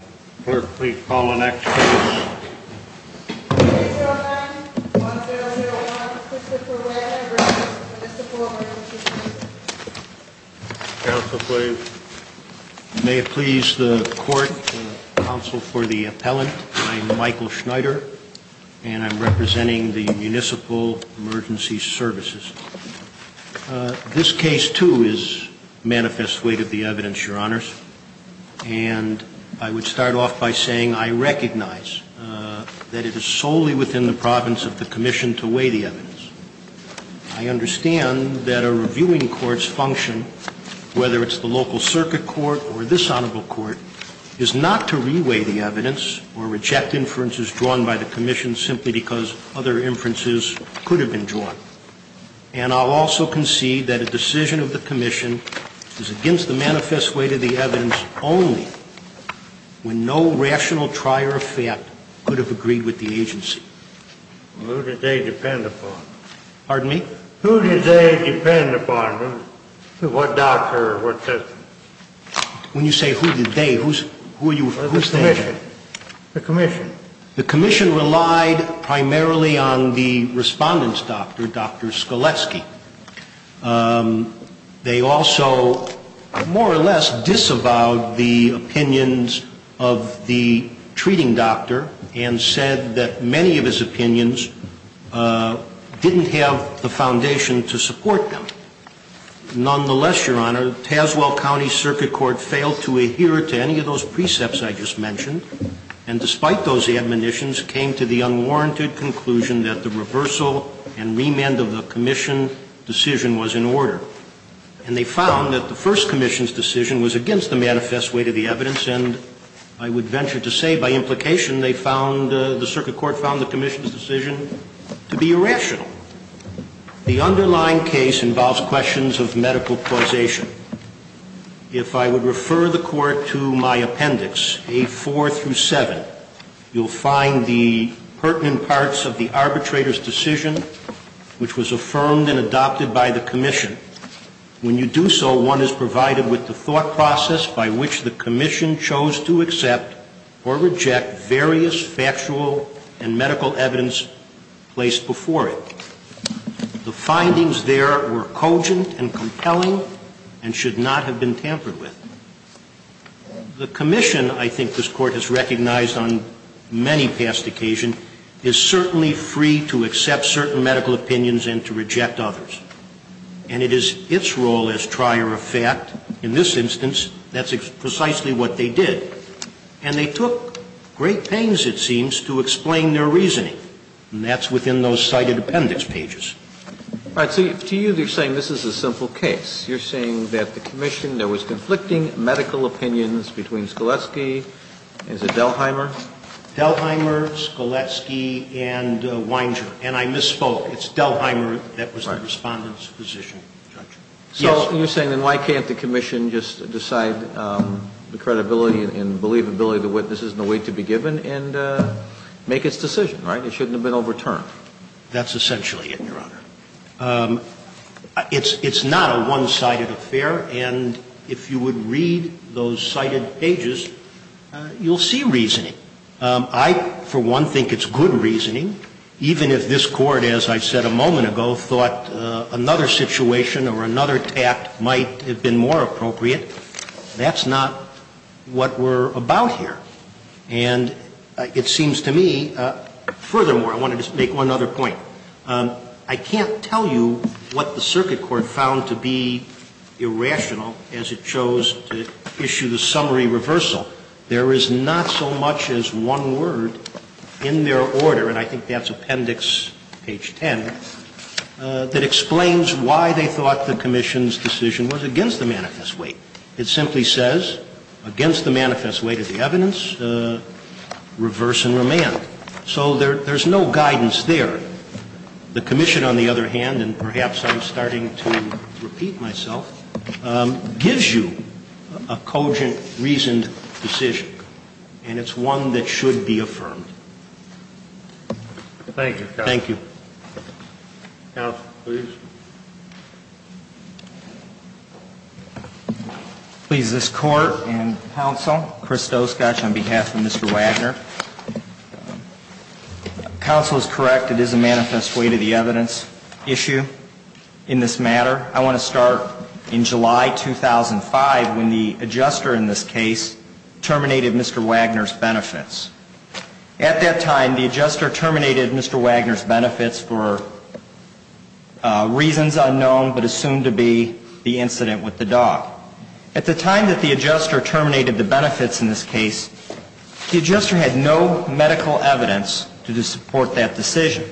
May it please the court and counsel for the appellant, I am Michael Schneider and I'm representing the Municipal Emergency Services. This case too is manifest weight of the evidence, Your Honors. And I would start off by saying I recognize that it is solely within the province of the Commission to weigh the evidence. I understand that a reviewing court's function, whether it's the local circuit court or this Honorable Court, is not to re-weigh the evidence or reject inferences drawn by the Commission simply because other inferences could have been drawn. And I'll also concede that a decision of the Commission is against the manifest weight of the evidence only when no rational trier of fact could have agreed with the agency. Who did they depend upon? Pardon me? Who did they depend upon? What doctor or what system? When you say who did they, who's that? The Commission. The Commission relied primarily on the respondent's doctor, Dr. Skoleski. They also more or less disavowed the opinions of the treating doctor and said that many of his opinions didn't have the foundation to support them. Nonetheless, Your Honor, Tazewell County Circuit Court failed to adhere to any of those admonitions, came to the unwarranted conclusion that the reversal and remand of the Commission decision was in order. And they found that the first Commission's decision was against the manifest weight of the evidence, and I would venture to say by implication they found, the circuit court found the Commission's decision to be irrational. The underlying case involves questions of medical causation. If I would refer the Court to my appendix, A4 through 7, you'll find the pertinent parts of the arbitrator's decision, which was affirmed and adopted by the Commission. When you do so, one is provided with the thought process by which the Commission chose to accept or reject various factual and medical evidence placed before it. The findings there were cogent and compelling and should not have been tampered with. The Commission, I think this Court has recognized on many past occasions, is certainly free to accept certain medical opinions and to reject others. And it is its role as trier of fact. In this instance, that's precisely what they did. And they took great pains, it seems, to explain their reasoning, and that's within those cited appendix pages. All right. So to you, they're saying this is a simple case. You're saying that the Commission, there was conflicting medical opinions between Skoletsky and is it Delheimer? Delheimer, Skoletsky, and Weinger. And I misspoke. It's Delheimer that was the Respondent's position, Judge. Yes. So you're saying then why can't the Commission just decide the credibility and believability of the witnesses in the way to be given and make its decision, right? It shouldn't have been overturned. That's essentially it, Your Honor. It's not a one-sided affair. And if you would read those cited pages, you'll see reasoning. I, for one, think it's good reasoning, even if this Court, as I said a moment ago, thought another situation or another tact might have been more appropriate. That's not what we're about here. And it seems to me, furthermore, I wanted to make one other point. I can't tell you what the Circuit Court found to be irrational as it chose to issue the summary reversal. There is not so much as one word in their order, and I think that's Appendix page 10, that explains why they thought the Commission's decision was against the manifest weight. It simply says, against the manifest weight of the evidence, reverse and remand. So there's no guidance there. The Commission, on the other hand, and perhaps I'm starting to repeat myself, gives you a cogent, reasoned decision, and it's one that should be affirmed. Thank you, counsel. Thank you. Counsel, please. Please, this Court and counsel, Chris Stoskosch on behalf of Mr. Wagner. Counsel is correct. It is a manifest weight of the evidence issue in this matter. I want to start in July 2005 when the adjuster in this case terminated Mr. Wagner's benefits. At that time, the adjuster terminated Mr. Wagner's benefits for real estate reasons unknown but assumed to be the incident with the dog. At the time that the adjuster terminated the benefits in this case, the adjuster had no medical evidence to support that decision.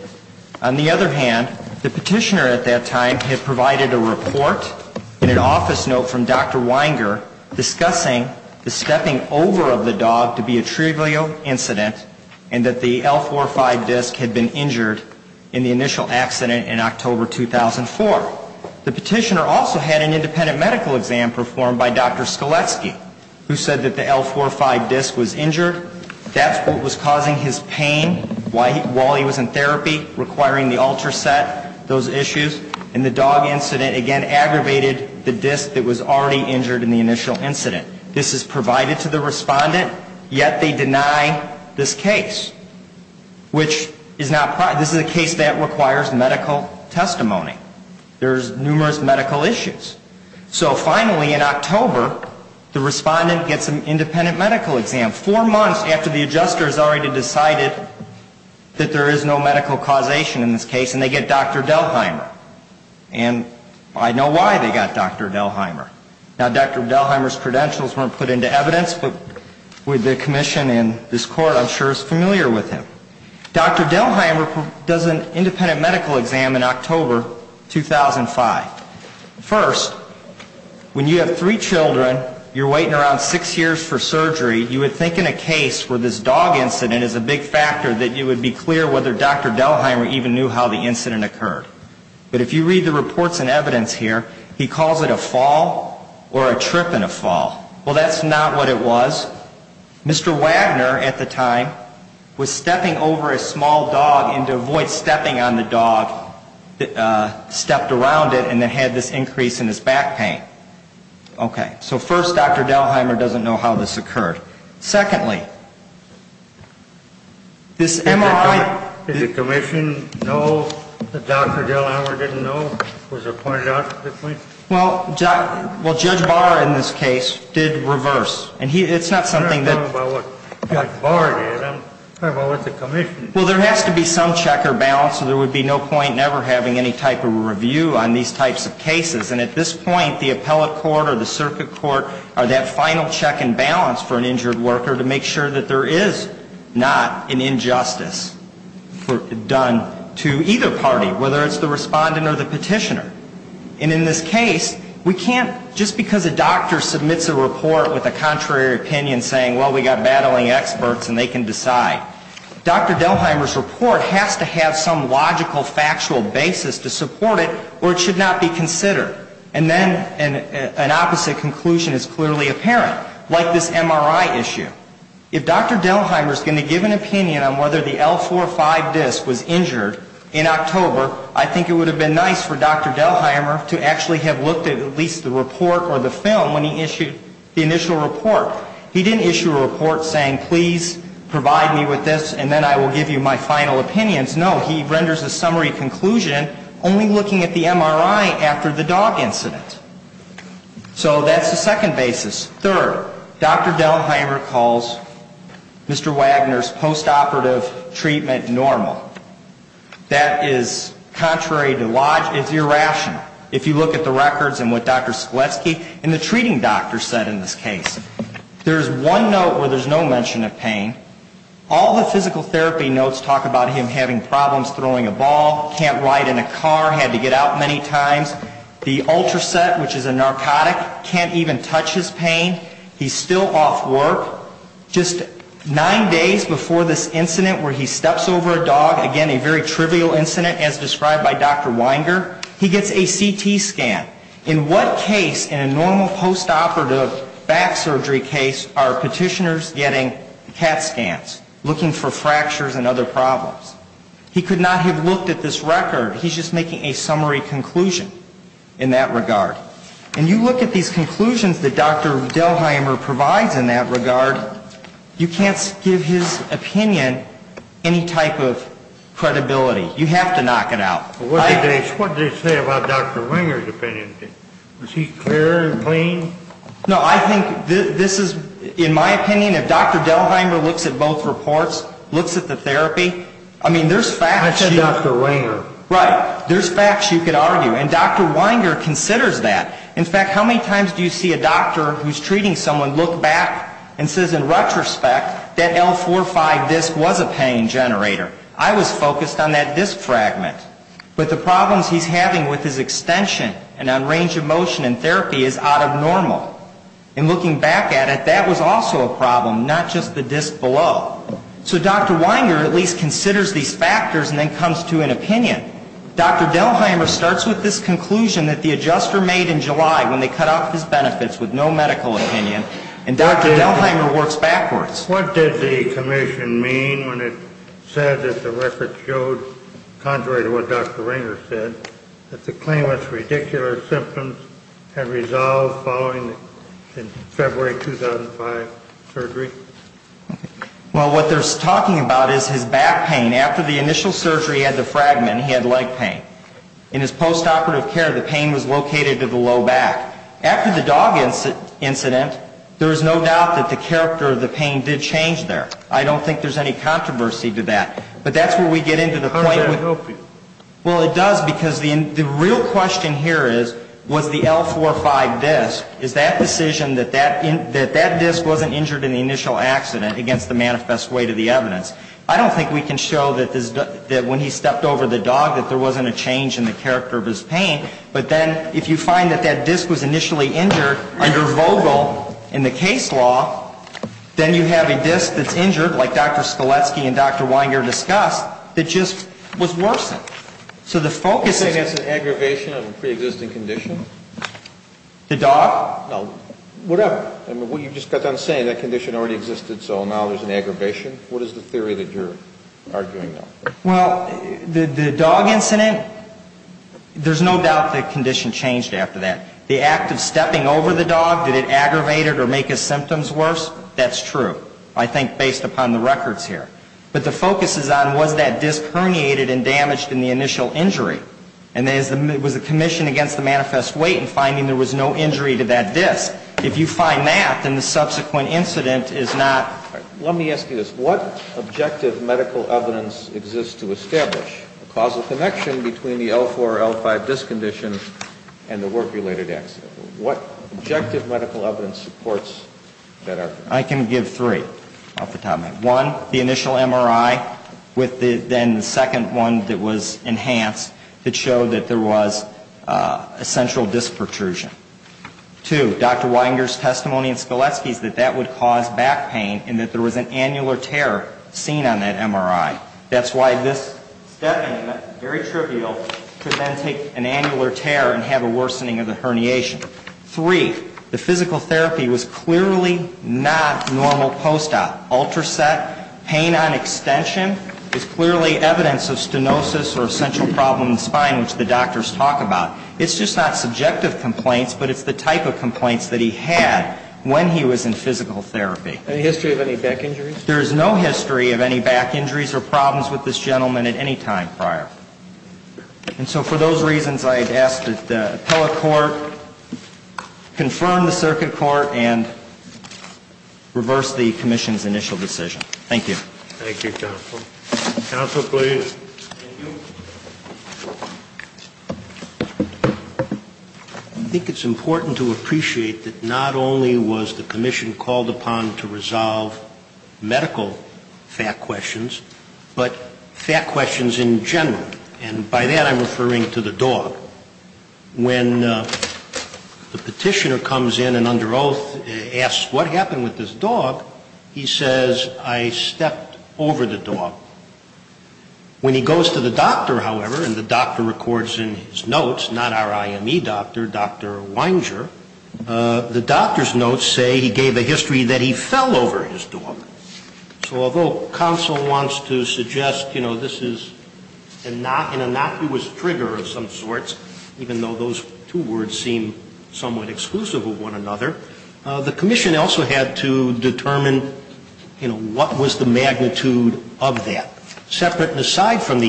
On the other hand, the petitioner at that time had provided a report and an office note from Dr. Wagner discussing the stepping over of the dog to be a trivial incident and that the L45 disc had been injured in the initial accident in October 2004. The petitioner also had an independent medical exam performed by Dr. Skoletsky who said that the L45 disc was injured. That's what was causing his pain while he was in therapy, requiring the ultrasound, those issues. And the dog incident, again, aggravated the disc that was already injured in the initial incident. This is provided to the respondent, yet they deny this case, which is not The L45 disc is not a trivial incident. It requires medical testimony. There's numerous medical issues. So finally, in October, the respondent gets an independent medical exam, four months after the adjuster has already decided that there is no medical causation in this case, and they get Dr. Delheimer. And I know why they got Dr. Delheimer. Now, Dr. Delheimer's credentials weren't put into evidence, but with the commission and this court, I'm sure it's familiar with him. Dr. Delheimer does an independent medical exam in October 2005. First, when you have three children, you're waiting around six years for surgery, you would think in a case where this dog incident is a big factor that it would be clear whether Dr. Delheimer even knew how the incident occurred. But if you read the reports and evidence here, he calls it a fall or a trip and a fall. Well, that's not what it was. Mr. Wagner at the time was stepping over a small dog, and to avoid stepping on the dog, stepped around it and then had this increase in his back pain. Okay. So first, Dr. Delheimer doesn't know how this occurred. Secondly, this MRI ---- Did the commission know that Dr. Delheimer didn't know? Was it pointed out at this point? Well, Judge Barr in this case did reverse. And it's not something that ---- I'm not talking about what Judge Barr did. I'm talking about what the commission did. Well, there has to be some check or balance, or there would be no point never having any type of review on these types of cases. And at this point, the appellate court or the circuit court are that final check and balance for an injured worker to make sure that there is not an injustice done to either party, whether it's the respondent or the petitioner. And in this case, we can't just because a doctor submits a report with a contrary opinion saying, well, we've got battling experts and they can decide. Dr. Delheimer's report has to have some logical, factual basis to support it, or it should not be considered. And then an opposite conclusion is clearly apparent, like this MRI issue. If Dr. Delheimer is going to give an opinion on whether the L4-5 disc was injured in October, I think it would have been nice for Dr. Delheimer to actually have looked at at least the report or the film when he issued the initial report. He didn't issue a report saying, please provide me with this and then I will give you my final opinions. No, he renders a summary conclusion only looking at the MRI after the dog incident. So that's the second basis. Third, Dr. Delheimer calls Mr. Wagner's post-operative treatment normal. That is contrary to logic. It's irrational. If you look at the records and what Dr. Sklecki and the treating doctors said in this case, there's one note where there's no mention of pain. All the physical therapy notes talk about him having problems throwing a ball, can't ride in a car, had to get out many times. The Ultraset, which is a narcotic, can't even touch his pain. He's still off work. Just nine days before this incident where he steps over a dog, again, a very trivial incident as described by Dr. Wagner, he gets a CT scan. In what case in a normal post-operative back surgery case are petitioners getting CAT scans, looking for fractures and other problems? He could not have looked at this record. He's just making a summary conclusion in that regard. And you look at these conclusions that Dr. Delheimer provides in that regard, you can't give his opinion any type of credibility. You have to knock it out. What did they say about Dr. Winger's opinion? Was he clear and plain? I think this is, in my opinion, if Dr. Delheimer looks at both reports, looks at the therapy, I mean, there's facts. I said Dr. Winger. Right. There's facts you could argue. And Dr. Winger considers that. In fact, how many times do you see a doctor who's treating someone look back and says in retrospect that L45 disc was a pain generator? I was focused on that disc fragment. But the problems he's having with his extension and on range of motion in therapy is out of normal. And looking back at it, that was also a problem, not just the disc below. So Dr. Winger at least considers these factors and then comes to an opinion. Dr. Delheimer starts with this conclusion that the adjuster made in July when they cut off his benefits with no medical opinion, and Dr. Delheimer works backwards. What did the commission mean when it said that the record showed, contrary to what Dr. Winger said, that the claimant's radicular symptoms had resolved following February 2005 surgery? Well, what they're talking about is his back pain. After the initial surgery, he had the fragment. He had leg pain. In his postoperative care, the pain was located to the low back. After the dog incident, there is no doubt that the character of the pain did change there. I don't think there's any controversy to that. But that's where we get into the point where the real question here is, was the L45 disc, is that decision that that disc wasn't injured in the initial accident against the manifest weight of the evidence. I don't think we can show that when he stepped over the dog that there wasn't a change in the character of his pain. But then if you find that that disc was initially injured under Vogel in the case law, then you have a disc that's injured, like Dr. Skoletsky and Dr. Winger discussed, that just was worsened. So the focus is ñ You're saying that's an aggravation of a preexisting condition? The dog? No. Whatever. I mean, what you just got done saying, that condition already existed, so now there's an aggravation. What is the theory that you're arguing now? Well, the dog incident, there's no doubt the condition changed after that. The act of stepping over the dog, did it aggravate it or make his symptoms worse? That's true. I think based upon the records here. But the focus is on, was that disc herniated and damaged in the initial injury? And then was the commission against the manifest weight in finding there was no injury to that disc? If you find that, then the subsequent incident is not ñ Let me ask you this. What objective medical evidence exists to establish a causal connection between the L4, L5 disc condition and the work-related accident? What objective medical evidence supports that argument? I can give three off the top of my head. One, the initial MRI, with then the second one that was enhanced that showed that there was a central disc protrusion. Two, Dr. Weinger's testimony in Skeleski's that that would cause back pain and that there was an annular tear seen on that MRI. That's why this stepping, very trivial, could then take an annular tear and have a worsening of the herniation. Three, the physical therapy was clearly not normal post-op. Ultraset, pain on extension is clearly evidence of stenosis or a central problem in the spine, which the doctors talk about. It's just not subjective complaints, but it's the type of complaints that he had when he was in physical therapy. Any history of any back injuries? There is no history of any back injuries or problems with this gentleman at any time prior. And so for those reasons, I had asked that the appellate court confirm the circuit court and reverse the commission's initial decision. Thank you. Thank you, counsel. Counsel, please. Thank you. I think it's important to appreciate that not only was the commission called upon to resolve medical fact questions, but fact questions in general. And by that I'm referring to the dog. When the petitioner comes in and under oath asks what happened with this dog, he says, I stepped over the dog. When he goes to the doctor, however, and the doctor records in his notes, not our IME doctor, Dr. Weinger, the doctor's notes say he gave a history that he fell over his dog. So although counsel wants to suggest, you know, this is an innocuous trigger of some sorts, even though those two words seem somewhat exclusive of one another, the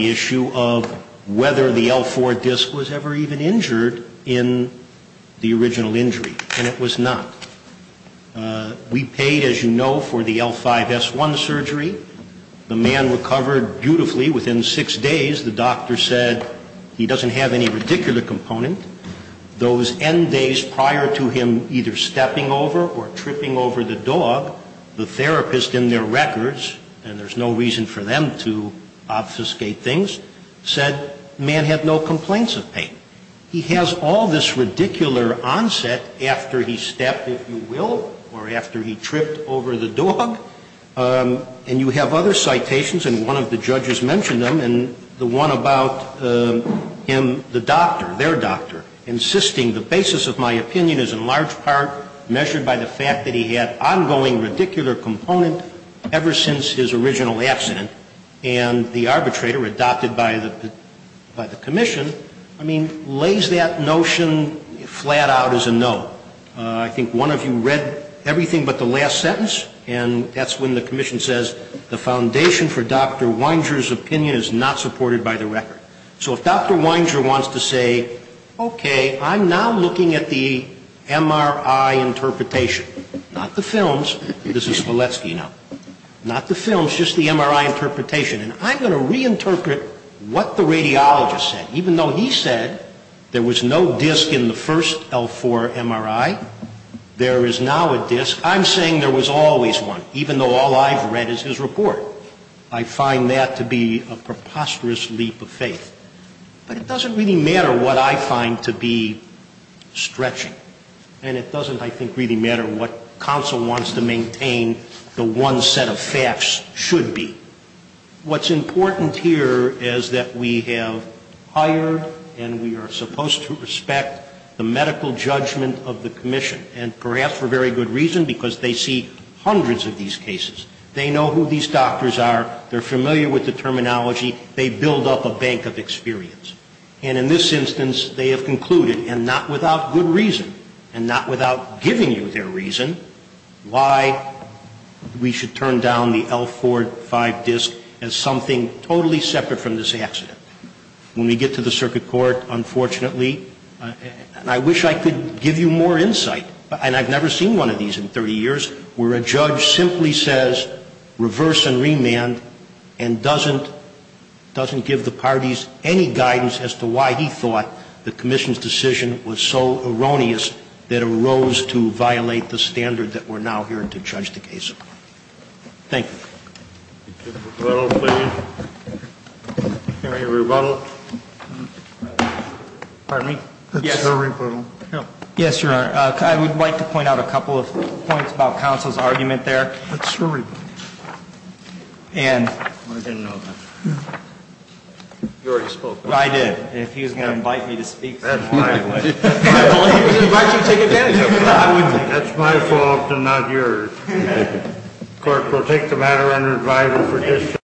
issue of whether the L4 disc was ever even injured in the original injury. And it was not. We paid, as you know, for the L5S1 surgery. The man recovered beautifully within six days. The doctor said he doesn't have any radicular component. Those end days prior to him either stepping over or tripping over the dog, the man, to obfuscate things, said man had no complaints of pain. He has all this radicular onset after he stepped, if you will, or after he tripped over the dog, and you have other citations, and one of the judges mentioned them, and the one about him, the doctor, their doctor, insisting the basis of my opinion is in large part measured by the fact that he had ongoing radicular component ever since his original accident, and the arbitrator adopted by the commission lays that notion flat out as a no. I think one of you read everything but the last sentence, and that's when the commission says the foundation for Dr. Weinger's opinion is not supported by the record. So if Dr. Weinger wants to say, okay, I'm now looking at the MRI interpretation, not the films, this is Valesky now, not the films, just the MRI interpretation, and I'm going to reinterpret what the radiologist said. Even though he said there was no disc in the first L4 MRI, there is now a disc. I'm saying there was always one, even though all I've read is his report. I find that to be a preposterous leap of faith. But it doesn't really matter what I find to be stretching, and it doesn't, I think, really matter what counsel wants to maintain the one set of facts should be. What's important here is that we have hired and we are supposed to respect the medical judgment of the commission, and perhaps for very good reason, because they see hundreds of these cases. They know who these doctors are. They're familiar with the terminology. They build up a bank of experience. And in this instance, they have concluded, and not without good reason and not without giving you their reason, why we should turn down the L4-5 disc as something totally separate from this accident. When we get to the circuit court, unfortunately, and I wish I could give you more insight, and I've never seen one of these in 30 years, where a judge simply says reverse and remand, and doesn't give the parties any guidance as to why he thought the commission's decision was so erroneous that it arose to violate the standard that we're now hearing to judge the case. Thank you. Rebuttal, please. Any rebuttal? Pardon me? That's your rebuttal. Yes, Your Honor. I would like to point out a couple of points about counsel's argument there. That's your rebuttal. And. I didn't know that. You already spoke. I did. If he was going to invite me to speak. That's fine. I believe he was going to invite you to take advantage of it. That's my fault and not yours. Thank you. The court will take the matter under advisory.